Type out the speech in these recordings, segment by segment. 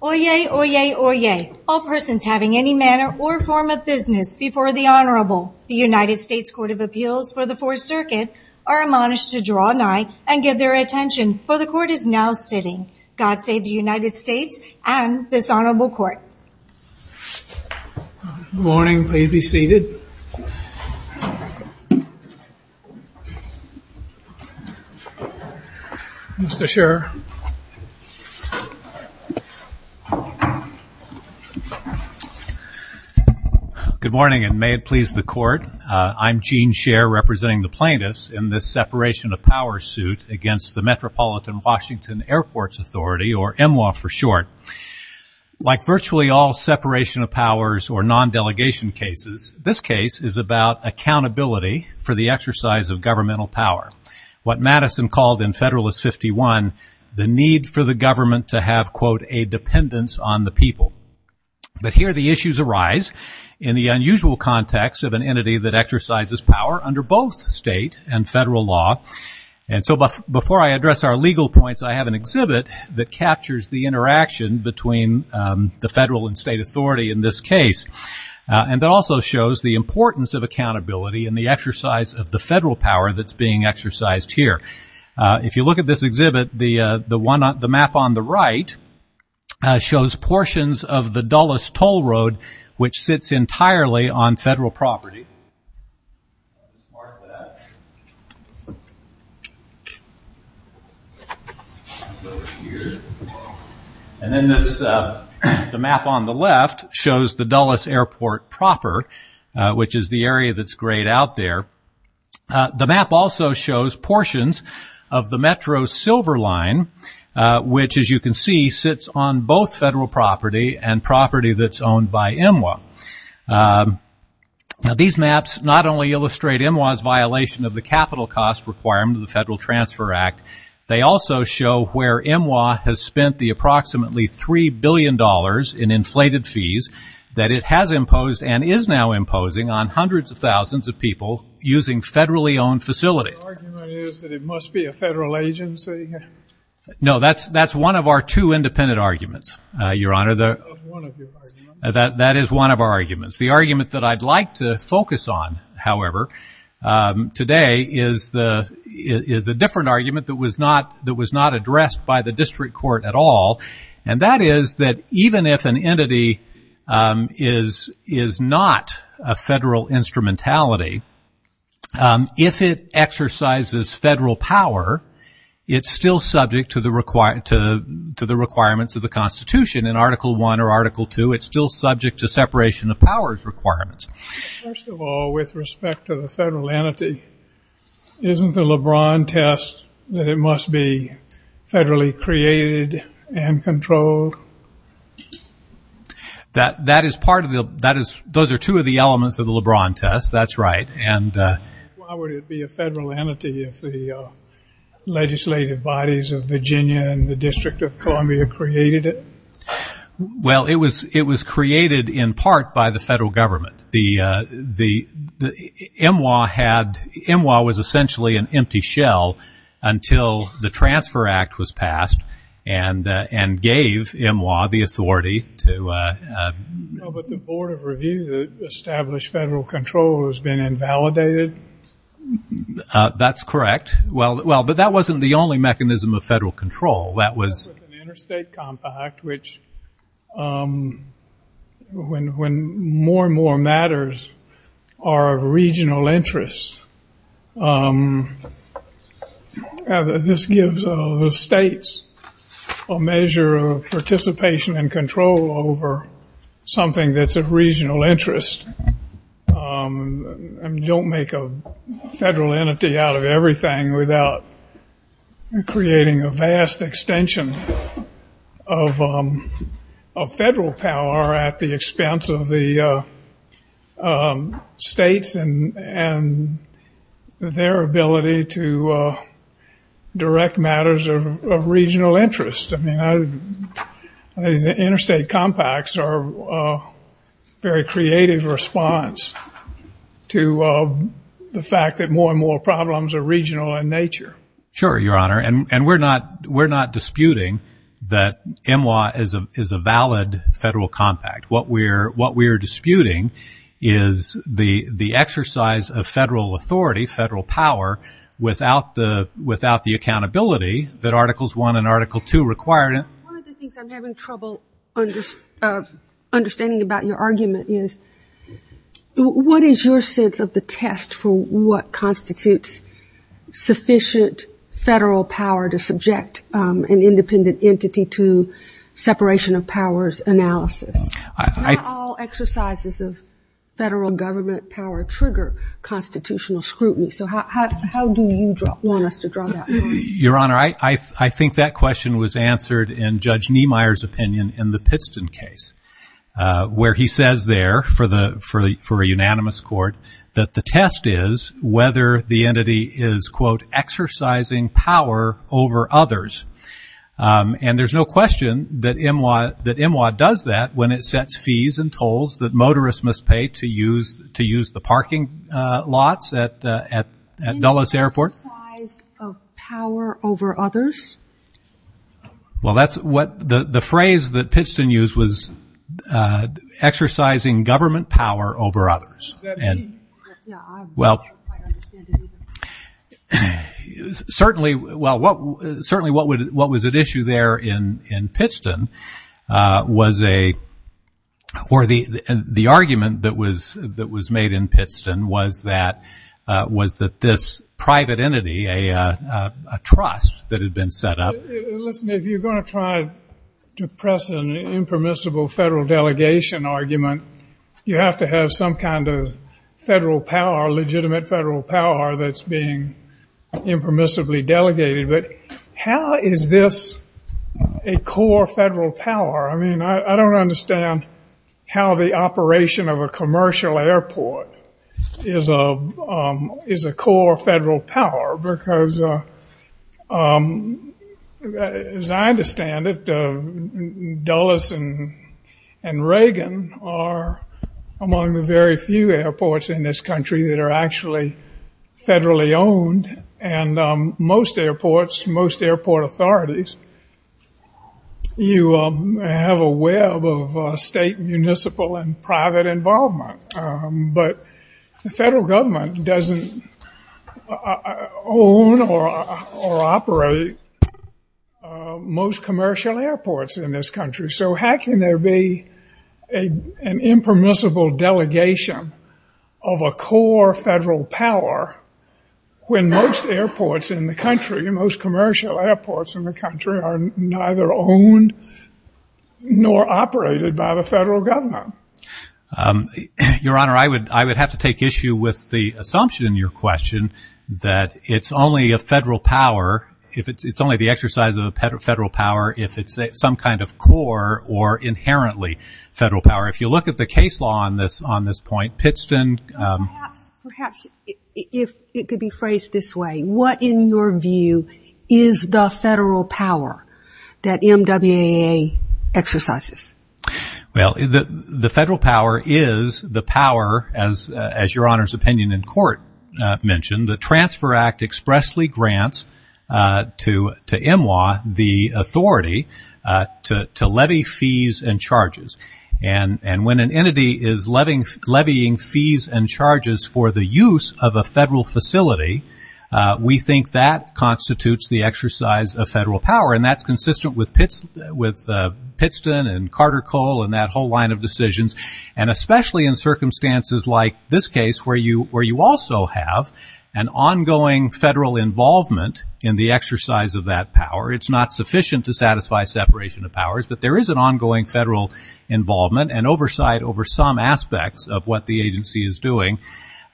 Oyez, oyez, oyez, all persons having any manner or form of business before the Honorable, the United States Court of Appeals for the Fourth Circuit, are admonished to draw nigh and give their attention, for the Court is now sitting. God save the United States and this Honorable Court. Good morning. Please be seated. Mr. Scherer. Good morning and may it please the Court. I'm Gene Scherer, representing the plaintiffs in this separation of power suit against the Metropolitan Washington Airports Authority, or MWA for short. Like virtually all separation of powers or non-delegation cases, this case is about accountability for the exercise of governmental power, what Madison called in Federalist 51, the need for the government to have, quote, a dependence on the people. But here the issues arise in the unusual context of an entity that exercises power under both state and federal law. And so before I address our legal points, I have an exhibit that captures the interaction between the federal and state authority in this case. And it also shows the importance of accountability and the exercise of the federal power that's being exercised here. If you look at this exhibit, the map on the right shows portions of the And then the map on the left shows the Dulles Airport proper, which is the area that's grayed out there. The map also shows portions of the Metro Silver Line, which as you can see sits on both federal property and property that's owned by MWA. Now these maps not only illustrate MWA's violation of the capital cost requirement of the Federal Transfer Act, they also show where MWA has spent the approximately $3 billion in inflated fees that it has imposed and is now imposing on hundreds of thousands of people using federally owned facilities. Your argument is that it must be a federal agency? No, that's one of our two independent arguments, Your Honor, that is one of our arguments. The argument that I'd like to focus on, however, today is a different argument that was not addressed by the district court at all, and that is that even if an entity is not a federal instrumentality, if it exercises federal power, it's still subject to the requirements of the Constitution in Article I or Article II, it's still subject to separation of powers requirements. First of all, with respect to the federal entity, isn't the LeBron test that it must be federally created and controlled? That is part of the, those are two of the elements of the LeBron test, that's right, and Why would it be a federal entity if the legislative bodies of Virginia and the District of Columbia created it? Well, it was created in part by the federal government. The MWA was essentially an empty shell until the Transfer Act was passed and gave MWA the authority to But the Board of Review that established federal control has been invalidated? That's correct. Well, but that wasn't the only mechanism of federal control. That was With an interstate compact, which when more and more matters are of regional interest, this gives the states a measure of participation and control over something that's of regional interest and don't make a federal entity out of everything without creating a vast extension of federal power at the expense of the states and their ability to direct matters of regional interest. I mean, interstate compacts are a very creative response to the fact that more and more problems are regional in nature. Sure, Your Honor, and we're not disputing that MWA is a valid federal compact. What we're disputing is the exercise of federal authority, federal power, without the accountability that Articles 1 and Article 2 require. One of the things I'm having trouble understanding about your argument is, what is your sense of the test for what constitutes sufficient federal power to subject an independent entity to separation of powers analysis? Not all exercises of federal government power trigger constitutional scrutiny. So how do you want us to draw that line? Your Honor, I think that question was answered in Judge Niemeyer's opinion in the Pittston case where he says there, for a unanimous court, that the test is whether the entity is, quote, exercising power over others. And there's no question that MWA does that when it sets fees and tolls that motorists must pay to use the parking lots at Dulles Airport. Exercise of power over others? Well, that's what the phrase that Pittston used was, exercising government power over others. Does that mean? Yeah, I don't quite understand it either. Certainly, what was at issue there in Pittston was a, or the argument that was made in Pittston was that this private entity, a trust that had been set up. Listen, if you're going to try to press an impermissible federal delegation argument, you have to have some kind of federal power, legitimate federal power, that's being impermissibly delegated. But how is this a core federal power? I mean, I don't understand how the operation of a commercial airport is a core federal power because, as I understand it, Dulles and Reagan are among the very few airports in this country that are actually federally owned. And most airports, most airport authorities, you have a web of state, municipal, and private involvement. But the federal government doesn't own or operate most commercial airports in this country. So how can there be an impermissible delegation of a core federal power when most airports in the country, most commercial airports in the country, are neither owned nor operated by the federal government? Your Honor, I would have to take issue with the assumption in your question that it's only a federal power, it's only the exercise of a federal power, if it's some kind of a federal power or inherently federal power. If you look at the case law on this point, Pittston... Perhaps, if it could be phrased this way, what in your view is the federal power that MWAA exercises? Well, the federal power is the power, as Your Honor's opinion in court mentioned, the Transfer of Fees and Charges. And when an entity is levying fees and charges for the use of a federal facility, we think that constitutes the exercise of federal power. And that's consistent with Pittston and Carter-Cole and that whole line of decisions. And especially in circumstances like this case where you also have an ongoing federal involvement in the exercise of that power, it's not sufficient to satisfy separation of powers, but there is an ongoing federal involvement and oversight over some aspects of what the agency is doing.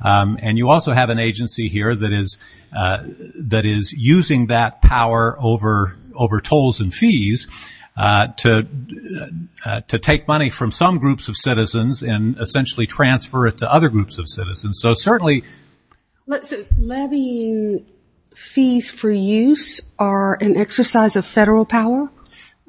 And you also have an agency here that is using that power over tolls and fees to take money from some groups of citizens and essentially transfer it to other groups of citizens. So certainly... So levying fees for use are an exercise of federal power?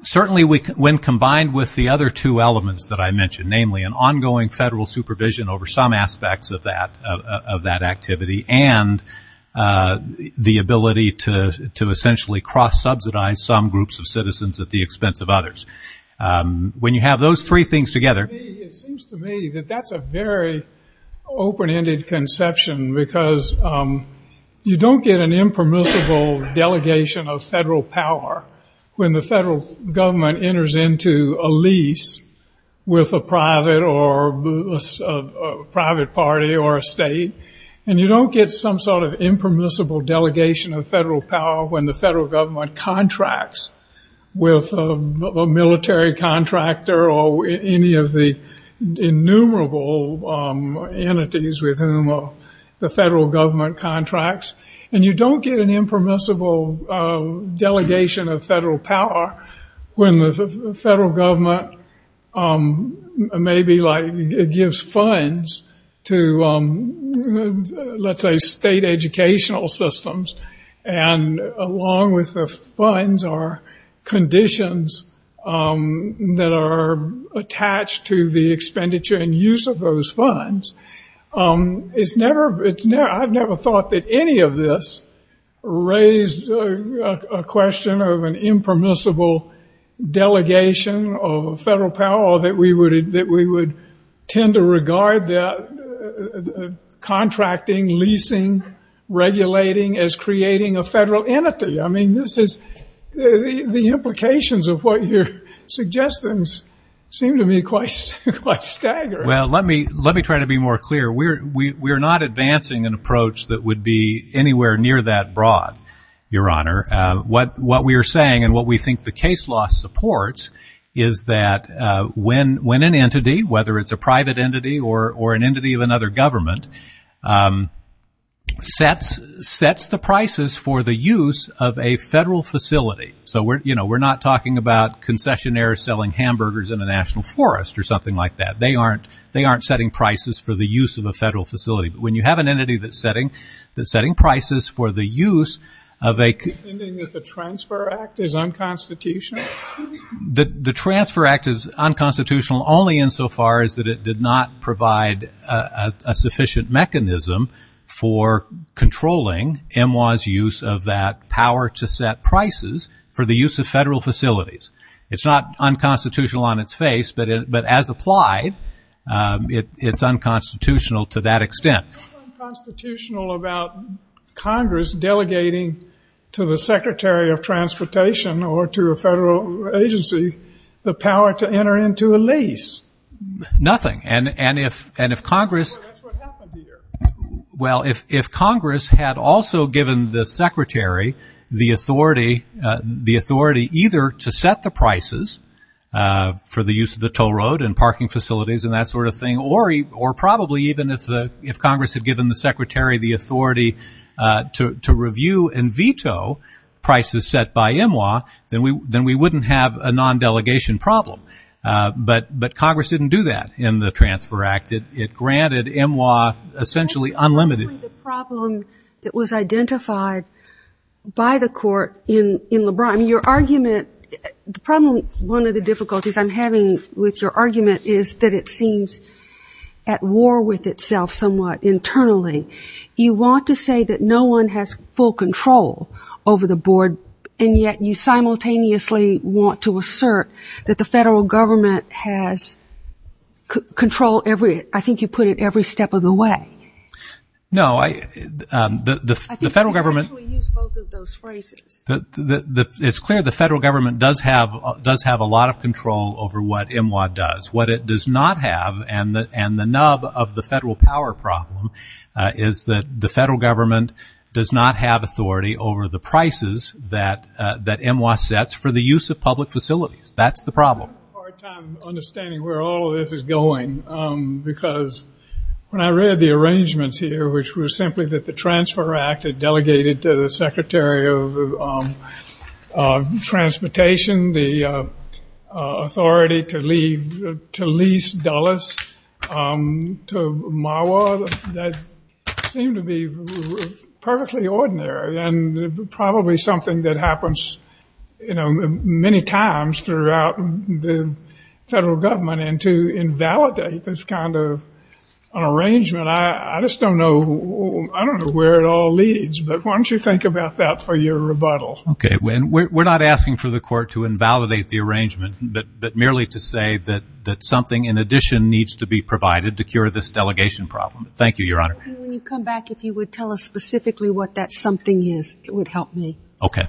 Certainly when combined with the other two elements that I mentioned, namely an ongoing federal supervision over some aspects of that activity and the ability to essentially cross subsidize some groups of citizens at the expense of others. When you have those three things together... It seems to me that that's a very open-ended conception because you don't get an impermissible delegation of federal power when the federal government enters into a lease with a private party or a state. And you don't get some sort of impermissible delegation of federal power when the federal government contracts with a military contractor or any of the innumerable entities with whom the federal government contracts. And you don't get an impermissible delegation of federal power when the federal government maybe gives funds to, let's say, state educational systems. And along with the funds are conditions that are attached to the expenditure and use of those funds. I've never thought that any of this raised a question of an impermissible delegation of federal power or that we would tend to regard that contracting, leasing, regulating as creating a federal entity. I mean, the implications of what you're suggesting seem to me quite staggering. Well, let me try to be more clear. We're not advancing an approach that would be anywhere near that broad, Your Honor. What we are saying and what we think the case law supports is that when an entity, whether it's a private entity or an entity of another government, sets the prices for the use of a federal facility. So we're not talking about concessionaires selling hamburgers in a national forest or something like that. They aren't setting prices for the use of a federal facility. But when you have an entity that's setting prices for the use of a Do you mean that the Transfer Act is unconstitutional? The Transfer Act is unconstitutional only insofar as that it did not provide a sufficient mechanism for controlling MWA's use of that power to set prices for the use of federal facilities. It's not unconstitutional on its face, but as applied, it's unconstitutional to that extent. What's unconstitutional about Congress delegating to the Secretary of Transportation or to a federal agency the power to enter into a lease? Nothing. And if Congress Well, that's what happened here. Well, if Congress had also given the Secretary the authority either to set the prices for the use of the toll road and parking facilities and that sort of thing, or probably even if Congress had given the Secretary the authority to review and veto prices set by MWA, then we wouldn't have a non-delegation problem. But Congress didn't do that in the Transfer Act. It granted MWA essentially unlimited The problem that was identified by the court in LeBron, your argument, the problem, one of the difficulties I'm having with your argument is that it seems at war with itself somewhat internally. You want to say that no one has full control over the board, and yet you simultaneously want to assert that the federal government has control every, I think you put it every step of the way. No, the federal government I think you could actually use both of those phrases. It's clear the federal government does have a lot of control over what MWA does. What it does not have, and the nub of the federal power problem, is that the federal government does not have authority over the prices that MWA sets for the use of public facilities. That's the problem. I'm having a hard time understanding where all of this is going. Because when I read the arrangements here, which were simply that the Transfer Act had delegated to the Secretary of Transportation the authority to lease Dulles to MWA. That seemed to be perfectly ordinary, and probably something that happens many times throughout the federal government. And to invalidate this kind of arrangement, I just don't know where it all leads. But why don't you think about that for your rebuttal? Okay. We're not asking for the court to invalidate the arrangement, but merely to say that something in addition needs to be provided to cure this delegation problem. Thank you, Your Honor. When you come back, if you would tell us specifically what that something is, it would help me. Okay.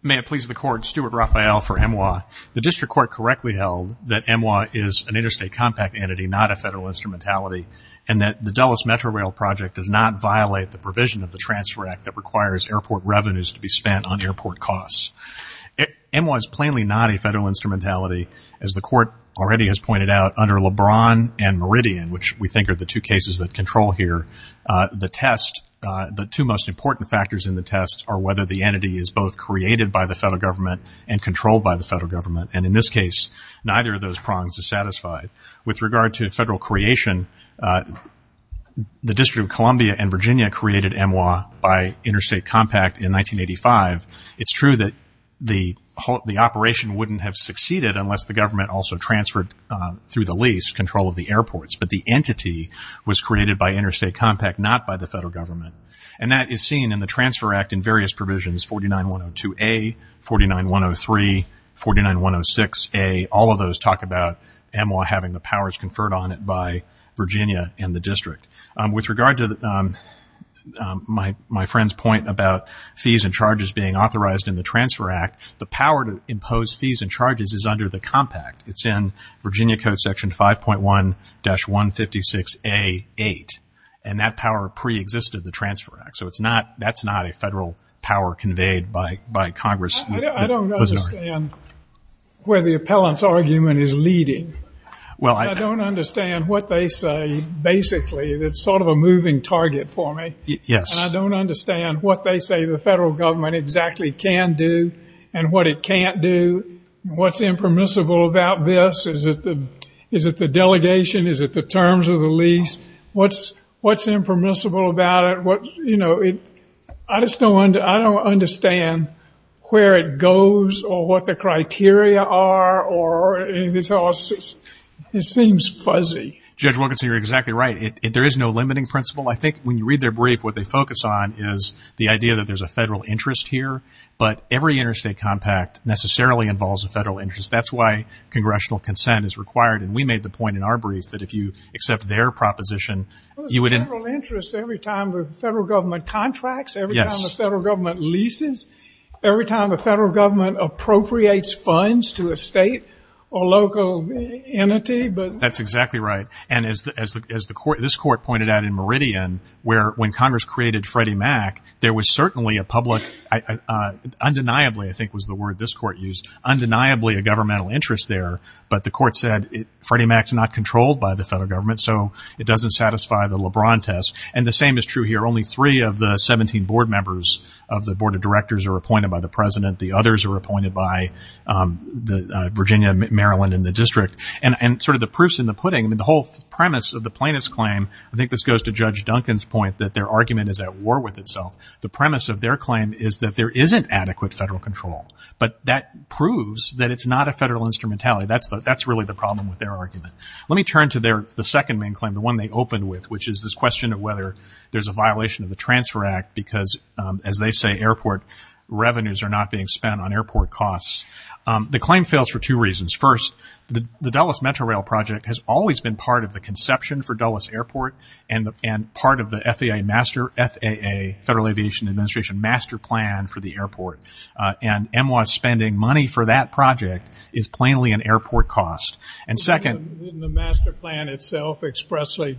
May it please the Court, Stuart Raphael for MWA. The District Court correctly held that MWA is an interstate compact entity, not a federal instrumentality, and that the Dulles Metro Rail Project does not violate the provision of the Transfer Act that requires airport revenues to be spent on airport costs. MWA is plainly not a federal instrumentality. As the Court already has pointed out, under LeBron and Meridian, which we think are the two cases that control here, the two most important factors in the test are whether the entity is both created by the federal government and controlled by the federal government. And in this case, neither of those prongs is satisfied. With regard to federal creation, the District of Columbia and Virginia created MWA by interstate compact in 1985. It's true that the operation wouldn't have succeeded unless the government also transferred through the lease control of the airports. But the entity was created by interstate compact, not by the federal government. And that is seen in the Transfer Act in various provisions, 49102A, 49103, 49106A. All of those talk about MWA having the powers conferred on it by Virginia and the district. With regard to my friend's point about fees and charges being authorized in the Transfer Act, the power to impose fees and charges is under the compact. It's in Virginia Code Section 5.1-156A-8. And that power preexisted the Transfer Act. So that's not a federal power conveyed by Congress. I don't understand where the appellant's argument is leading. I don't understand what they say, basically. It's sort of a moving target for me. I don't understand what they say the federal government exactly can do and what it can't do. What's impermissible about this? Is it the delegation? Is it the terms of the lease? What's impermissible about it? You know, I just don't understand where it goes or what the criteria are. It seems fuzzy. Judge Wilkinson, you're exactly right. There is no limiting principle. I think when you read their brief, what they focus on is the idea that there's a federal interest here. But every interstate compact necessarily involves a federal interest. That's why congressional consent is required. And we made the point in our brief that if you accept their proposition, you wouldn't Federal interest every time the federal government contracts? Every time the federal government leases? Every time the federal government appropriates funds to a state or local entity? That's exactly right. And as this court pointed out in Meridian, when Congress created Freddie Mac, there was certainly a public, undeniably I think was the word this court used, undeniably a governmental interest there. But the court said Freddie Mac's not controlled by the federal government, so it doesn't satisfy the LeBron test. And the same is true here. Only three of the 17 board members of the board of directors are appointed by the president. The others are appointed by Virginia, Maryland, and the district. And sort of the proof's in the pudding. The whole premise of the plaintiff's claim, I think this goes to Judge Duncan's point, that their argument is at war with itself. The premise of their claim is that there isn't adequate federal control. But that proves that it's not a federal instrumentality. That's really the problem with their argument. Let me turn to the second main claim, the one they opened with, which is this question of whether there's a violation of the Transfer Act because as they say, airport revenues are not being spent on airport costs. The claim fails for two reasons. First, the Dulles Metro Rail project has always been part of the conception for Dulles Airport and part of the FAA Federal Aviation Administration master plan for the airport. And EMWA spending money for that project is plainly an airport cost. And second- Doesn't the master plan itself expressly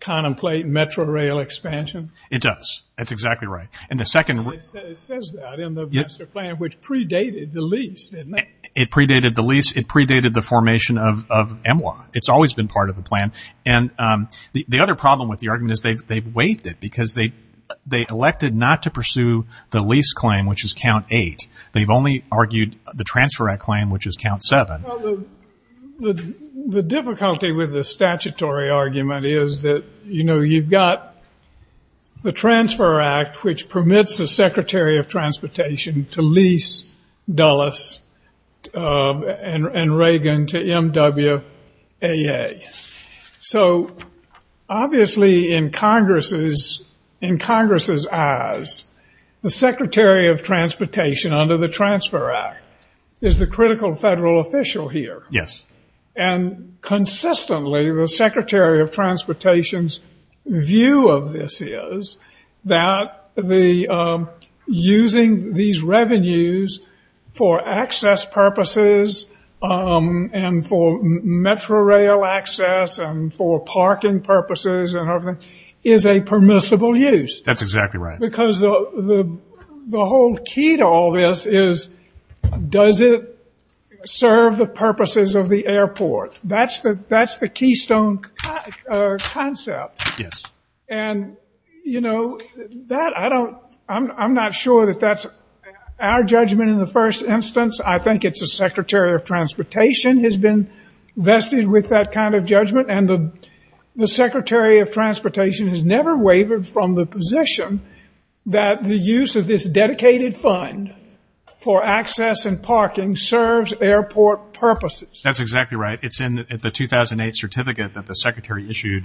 contemplate metro rail expansion? It does. That's exactly right. And the second- It says that in the master plan, which predated the lease, didn't it? It predated the lease. It predated the formation of EMWA. It's always been part of the plan. And the other problem with the argument is they've waived it because they elected not to pursue the lease claim, which is count eight. They've only argued the Transfer Act claim, which is count seven. The difficulty with the statutory argument is that you've got the Transfer Act, which permits the Secretary of Transportation to lease Dulles and Reagan to EMWA. So obviously in Congress's eyes, the Secretary of Transportation, under the Transfer Act, is the critical federal official here. Yes. And consistently, the Secretary of Transportation's view of this is that using these revenues for access purposes and for metro rail access and for parking purposes and everything is a permissible use. That's exactly right. Because the whole key to all this is, does it serve the purposes of the airport? That's the keystone concept. Yes. And, you know, I'm not sure that that's our judgment in the first instance. I think it's the Secretary of Transportation has been vested with that kind of judgment. And the Secretary of Transportation has never wavered from the position that the use of this dedicated fund for access and parking serves airport purposes. That's exactly right. It's in the 2008 certificate that the Secretary issued,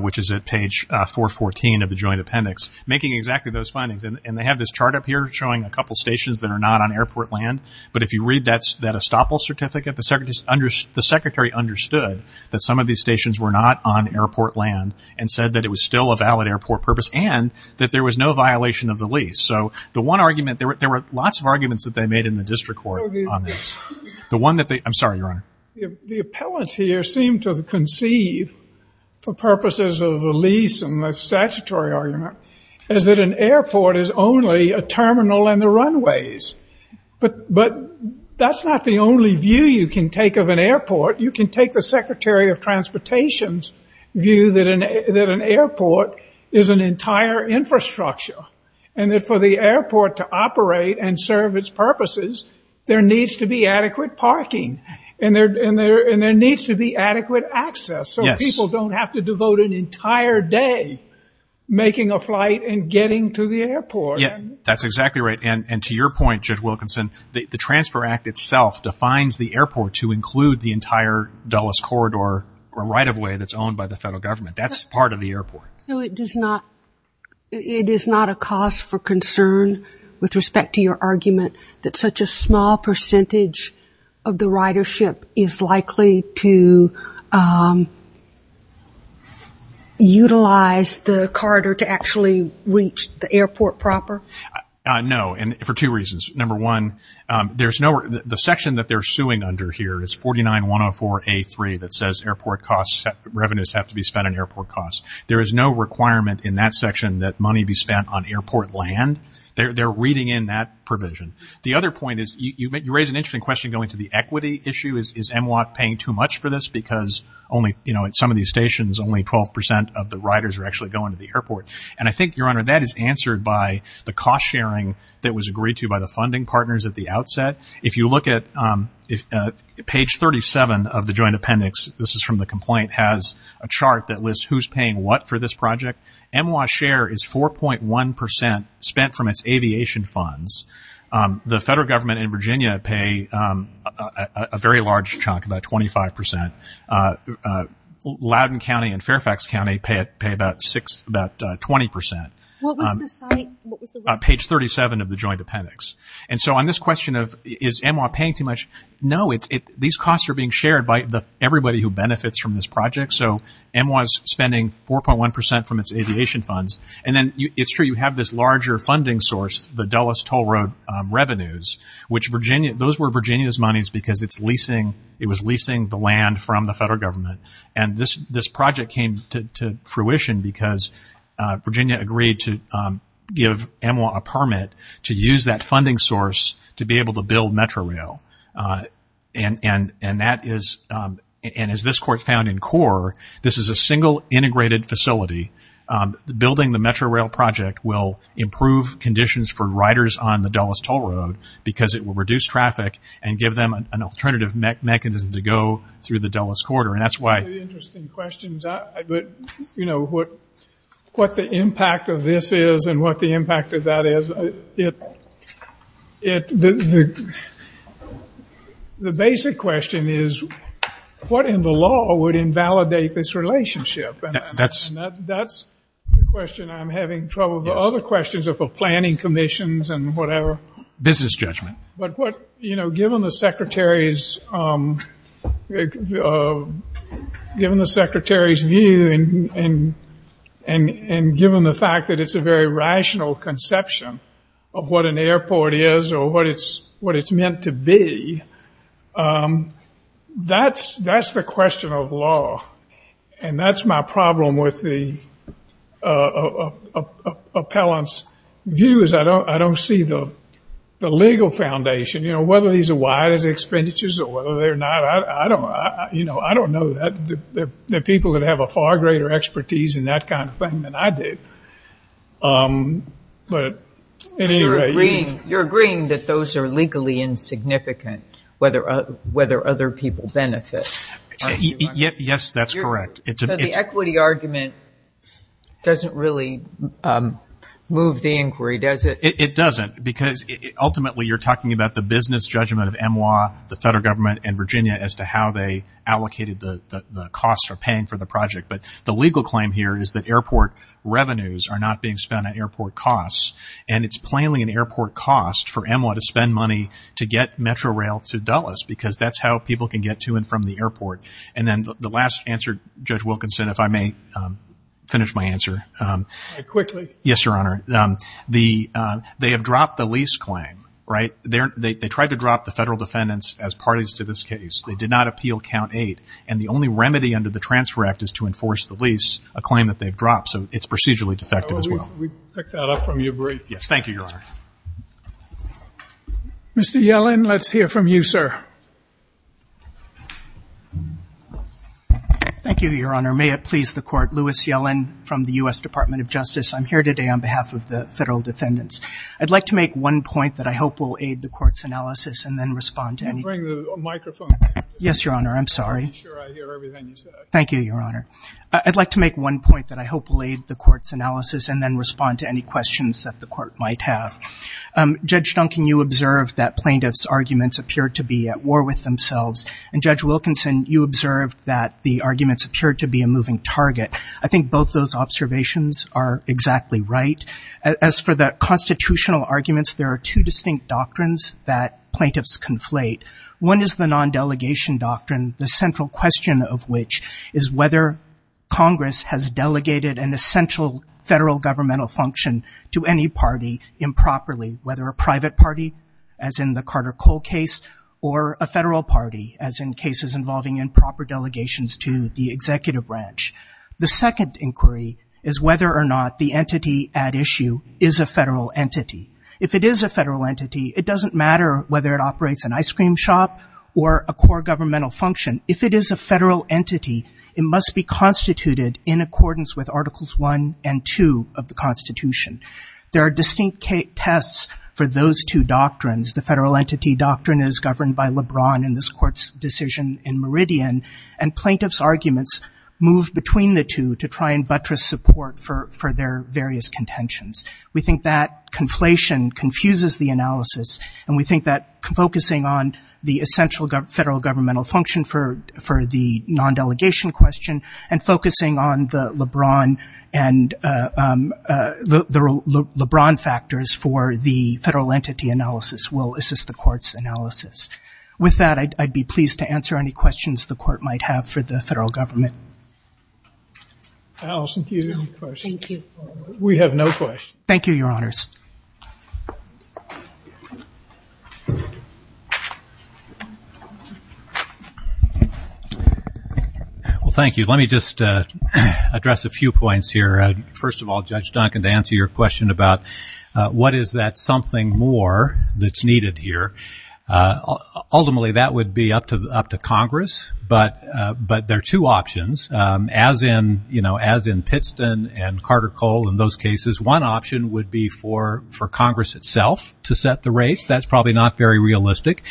which is at page 414 of the Joint Appendix, making exactly those findings. And they have this chart up here showing a couple stations that are not on airport land. But if you read that estoppel certificate, the Secretary understood that some of these stations were not on airport land and said that it was still a valid airport purpose and that there was no violation of the lease. So the one argument, there were lots of arguments that they made in the district court on this. The one that they, I'm sorry, Your Honor. The appellants here seem to conceive for purposes of the lease and the statutory argument is that an airport is only a terminal in the runways. But that's not the only view you can take of an airport. You can take the Secretary of Transportation's view that an airport is an entire infrastructure and that for the airport to operate and serve its purposes, there needs to be adequate parking and there needs to be adequate access so people don't have to devote an entire day making a flight and getting to the airport. That's exactly right. And to your point, Judge Wilkinson, the Transfer Act itself defines the airport to include the entire Dulles corridor or right-of-way that's owned by the federal government. That's part of the airport. So it is not a cause for concern with respect to your argument that such a small percentage of the ridership is likely to utilize the corridor to actually reach the airport proper? No, and for two reasons. Number one, the section that they're suing under here is 49-104-A3 that says revenues have to be spent on airport costs. There is no requirement in that section that money be spent on airport land. They're reading in that provision. The other point is you raise an interesting question going to the equity issue. Is MWOT paying too much for this because at some of these stations only 12% of the riders are actually going to the airport? And I think, Your Honor, that is answered by the cost sharing that was agreed to by the funding partners at the outset. If you look at page 37 of the joint appendix, this is from the complaint, has a chart that lists who's paying what for this project. MWOT share is 4.1% spent from its aviation funds. The federal government in Virginia pay a very large chunk, about 25%. Loudoun County and Fairfax County pay about 20%. What was the site? Page 37 of the joint appendix. And so on this question of is MWOT paying too much, no, these costs are being shared by everybody who benefits from this project. So MWOT is spending 4.1% from its aviation funds. And then it's true, you have this larger funding source, the Dulles Toll Road revenues, which Virginia, those were Virginia's monies because it's leasing, it was leasing the land from the federal government. And this project came to fruition because Virginia agreed to give MWOT a permit to use that funding source to be able to build Metrorail. And that is, and as this court found in core, this is a single integrated facility. Building the Metrorail project will improve conditions for riders on the Dulles Toll Road because it will reduce traffic and give them an alternative mechanism to go through the Dulles Corridor. And that's why. Interesting questions. But, you know, what the impact of this is and what the impact of that is. The basic question is what in the law would invalidate this relationship? That's the question I'm having trouble with. The other questions are for planning commissions and whatever. Business judgment. But what, you know, given the Secretary's, given the Secretary's view and given the fact that it's a very rational conception of what an airport is or what it's meant to be, that's the question of law. And that's my problem with the appellant's views. I don't see the legal foundation. You know, whether these are wide as expenditures or whether they're not, I don't, you know, I don't know that. There are people that have a far greater expertise in that kind of thing than I do. But at any rate. You're agreeing that those are legally insignificant, whether other people benefit. Yes, that's correct. So the equity argument doesn't really move the inquiry, does it? It doesn't. Because ultimately you're talking about the business judgment of EMWA, the federal government and Virginia as to how they allocated the costs or paying for the project. But the legal claim here is that airport revenues are not being spent at airport costs. And it's plainly an airport cost for EMWA to spend money to get Metro Rail to Dulles because that's how people can get to and from the airport. And then the last answer, Judge Wilkinson, if I may finish my answer. Quickly. Yes, Your Honor. They have dropped the lease claim, right? They tried to drop the federal defendants as parties to this case. They did not appeal count eight. And the only remedy under the Transfer Act is to enforce the lease, a claim that they've dropped. So it's procedurally defective as well. We've picked that up from your brief. Yes, thank you, Your Honor. Mr. Yellen, let's hear from you, sir. Thank you, Your Honor. May it please the Court. Louis Yellen from the U.S. Department of Justice. I'm here today on behalf of the federal defendants. I'd like to make one point that I hope will aid the Court's analysis and then respond to any questions. Bring the microphone. Yes, Your Honor. I'm sorry. I'm pretty sure I hear everything you said. Thank you, Your Honor. I'd like to make one point that I hope will aid the Court's analysis and then respond to any questions that the Court might have. Judge Duncan, you observed that plaintiffs' arguments appeared to be at war with themselves. And Judge Wilkinson, you observed that the arguments appeared to be a moving target. I think both those observations are exactly right. As for the constitutional arguments, there are two distinct doctrines that plaintiffs conflate. One is the non-delegation doctrine, the central question of which is whether Congress has delegated an essential federal governmental function to any party improperly, whether a private party, as in the Carter-Cole case, or a federal party, as in cases involving improper delegations to the executive branch. The second inquiry is whether or not the entity at issue is a federal entity. If it is a federal entity, it doesn't matter whether it operates an ice cream shop or a core governmental function. If it is a federal entity, it must be constituted in accordance with Articles 1 and 2 of the Constitution. There are distinct tests for those two doctrines. The federal entity doctrine is governed by LeBron in this Court's decision in Meridian, and plaintiffs' arguments move between the two to try and buttress support for their various contentions. We think that conflation confuses the analysis, and we think that focusing on the essential federal governmental function for the non-delegation question and focusing on the LeBron and the LeBron factors for the federal entity analysis will assist the Court's analysis. With that, I'd be pleased to answer any questions the Court might have for the federal government. Alison, do you have any questions? Thank you. We have no questions. Thank you, Your Honours. Well, thank you. Let me just address a few points here. First of all, Judge Duncan, to answer your question about what is that something more that's needed here. Ultimately, that would be up to Congress, but there are two options. As in, you know, as in Pitston and Carter-Cole and those cases, to decide whether or not to make a decision for Congress itself to set the rates. That's probably not very realistic.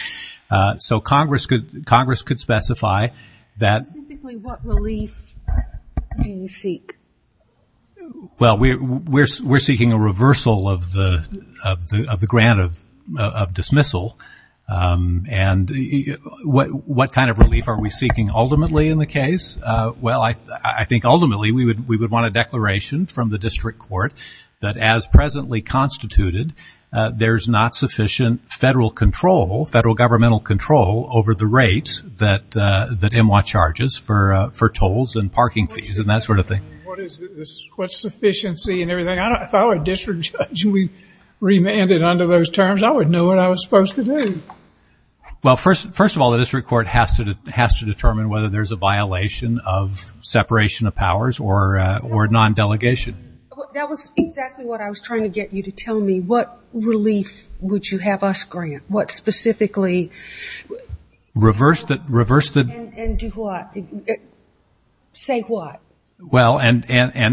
So Congress could specify that... Specifically, what relief do you seek? Well, we're seeking a reversal of the grant of dismissal, and what kind of relief are we seeking ultimately in the case? Well, I think ultimately we would want a declaration from the district court that as presently constituted, there's not sufficient federal control, federal governmental control over the rates that M.W.A. charges for tolls and parking fees and that sort of thing. What is this? What's sufficiency and everything? If I were a district judge and we remanded under those terms, I would know what I was supposed to do. Well, first of all, the district court has to determine whether there's a violation of separation of powers or non-delegation. That was exactly what I was trying to get you to tell me. What relief would you have us grant? What specifically... Reverse the... And do what? Say what? Well, and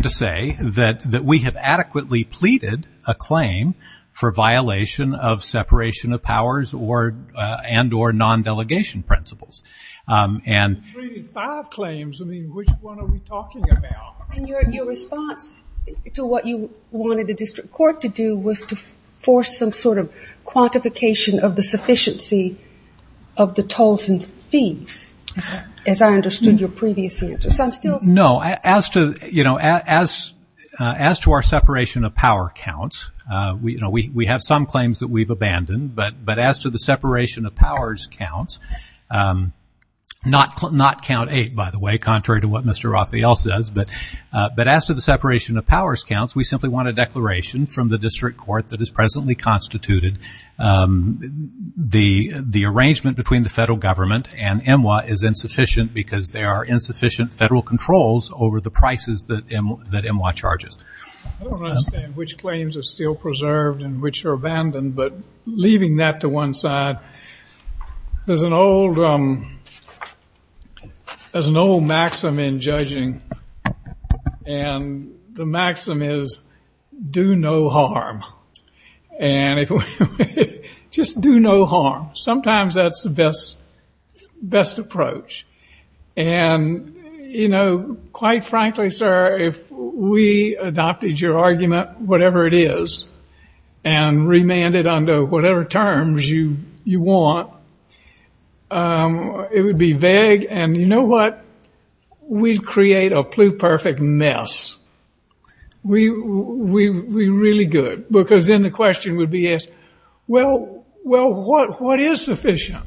to say that we have adequately pleaded a claim for violation of separation of powers and or non-delegation principles. And... We pleaded five claims. I mean, which one are we talking about? And your response to what you wanted the district court to do was to force some sort of quantification of the sufficiency of the tolls and fees, as I understood your previous answer. So I'm still... No, as to, you know, as to our separation of power counts, you know, we have some claims that we've abandoned, but as to the separation of powers counts, not count eight, by the way, contrary to what Mr. Raphael says, but as to the separation of powers counts, we simply want a declaration from the district court that has presently constituted the arrangement between the federal government and MWA is insufficient because there are insufficient federal controls over the prices that MWA charges. I don't understand which claims are still preserved and which are abandoned, but leaving that to one side, there's an old... There's an old maxim in judging, and the maxim is, do no harm. And if we... Just do no harm. Sometimes that's the best approach. And, you know, quite frankly, sir, if we adopted your argument, whatever it is, and remanded under whatever terms you want, it would be vague. And you know what? We'd create a pluperfect mess. We'd be really good, because then the question would be asked, well, what is sufficient?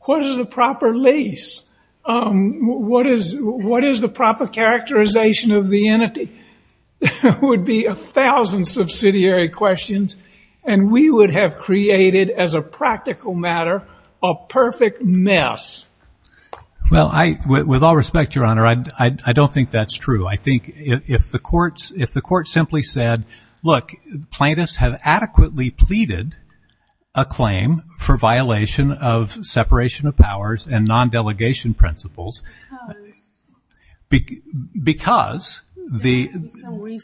What is the proper lease? What is the proper characterization of the entity? There would be a thousand subsidiary questions, and we would have created, as a practical matter, a perfect mess. Well, with all respect, Your Honor, I don't think that's true. I think if the court simply said, look, plaintiffs have adequately pleaded a claim for violation of separation of powers and non-delegation principles... Because. Because the...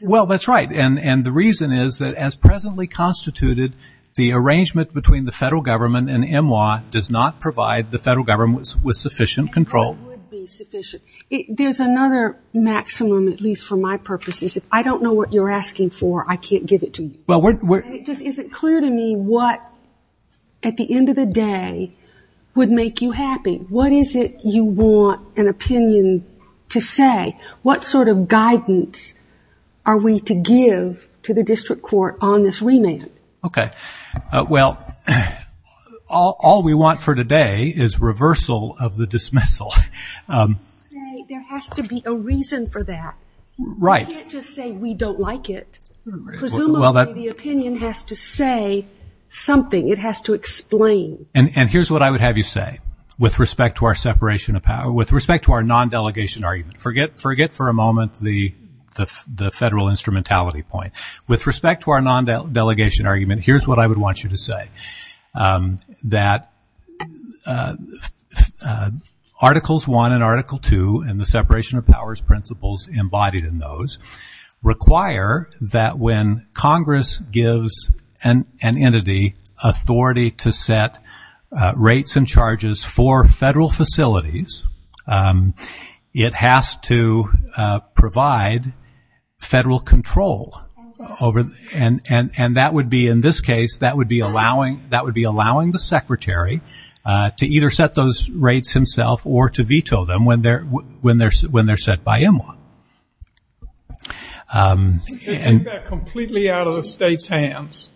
Well, that's right. And the reason is that, as presently constituted, the arrangement between the federal government and MWA does not provide the federal government with sufficient control. There's another maximum, at least for my purposes. If I don't know what you're asking for, I can't give it to you. Is it clear to me what, at the end of the day, would make you happy? What is it you want an opinion to say? What sort of guidance are we to give to the district court on this remand? Okay. Well, all we want for today is reversal of the dismissal. There has to be a reason for that. Right. You can't just say, we don't like it. Presumably, the opinion has to say something. It has to explain. And here's what I would have you say with respect to our separation of power, with respect to our non-delegation argument. Forget for a moment the federal instrumentality point. With respect to our non-delegation argument, here's what I would want you to say. That... Articles 1 and Article 2 and the separation of powers principles embodied in those require that when Congress gives an entity authority to set rates and charges for federal facilities, it has to provide federal control. And that would be, in this case, that would be allowing the secretary to either set those rates himself or to veto them when they're set by EMWA. You can't do that completely out of the state's hands.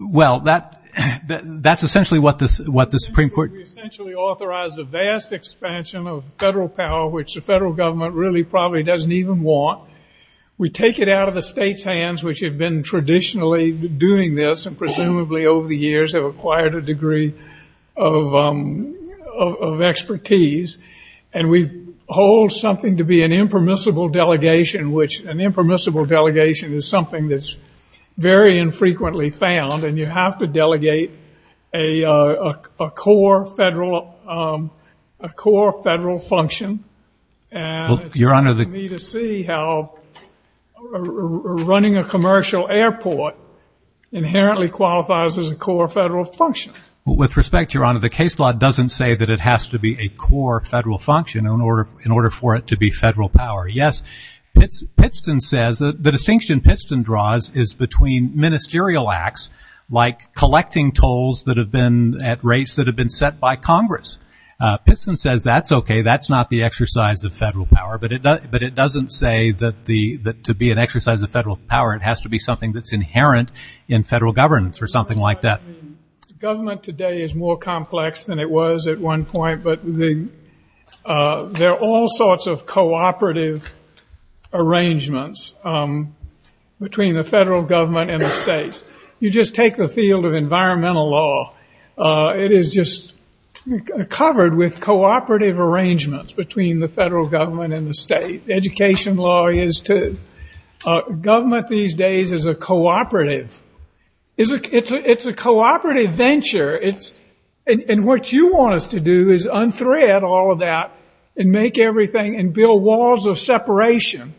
Well, that's essentially what the Supreme Court... We essentially authorize a vast expansion of federal power, which the federal government really probably doesn't even want. We take it out of the state's hands, which have been traditionally doing this and presumably over the years have acquired a degree of expertise. And we hold something to be an impermissible delegation, which an impermissible delegation is something that's very infrequently found, and you have to delegate a core federal function. And it's interesting to me to see how running a commercial airport inherently qualifies as a core federal function. With respect, Your Honor, the case law doesn't say that it has to be a core federal function in order for it to be federal power. Yes, Pittston says... The distinction Pittston draws is between ministerial acts, like collecting tolls that have been at rates that have been set by Congress. Pittston says that's okay, that's not the exercise of federal power, but it doesn't say that to be an exercise of federal power it has to be something that's inherent in federal governance or something like that. I mean, government today is more complex than it was at one point, but there are all sorts of cooperative arrangements between the federal government and the states. You just take the field of environmental law. It is just covered with cooperative arrangements between the federal government and the state. Education law is to... Government these days is a cooperative... It's a cooperative venture. And what you want us to do is unthread all of that and make everything and build walls of separation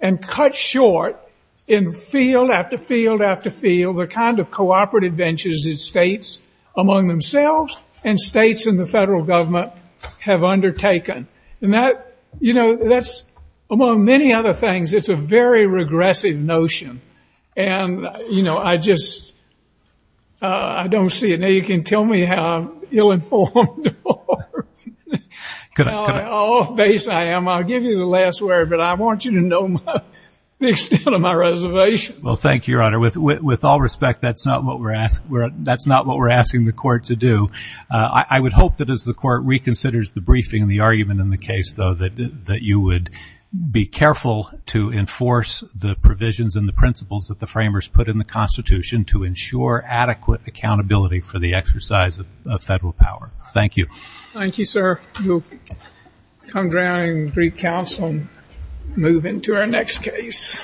and cut short in field after field after field the kind of cooperative ventures that states among themselves and states and the federal government have undertaken. And that, you know, that's... Among many other things, it's a very regressive notion. And, you know, I just... I don't see it. Now you can tell me how ill-informed or... Could I? Could I? ...how off-base I am. I'll give you the last word, but I want you to know the extent of my reservation. Well, thank you, Your Honor. With all respect, that's not what we're asking the court to do. I would hope that as the court reconsiders the briefing and the argument in the case, though, that you would be careful to enforce the provisions and the principles that the framers put in the Constitution to ensure adequate accountability for the exercise of federal power. Thank you. Thank you, sir. We'll come down and greet counsel and move into our next case.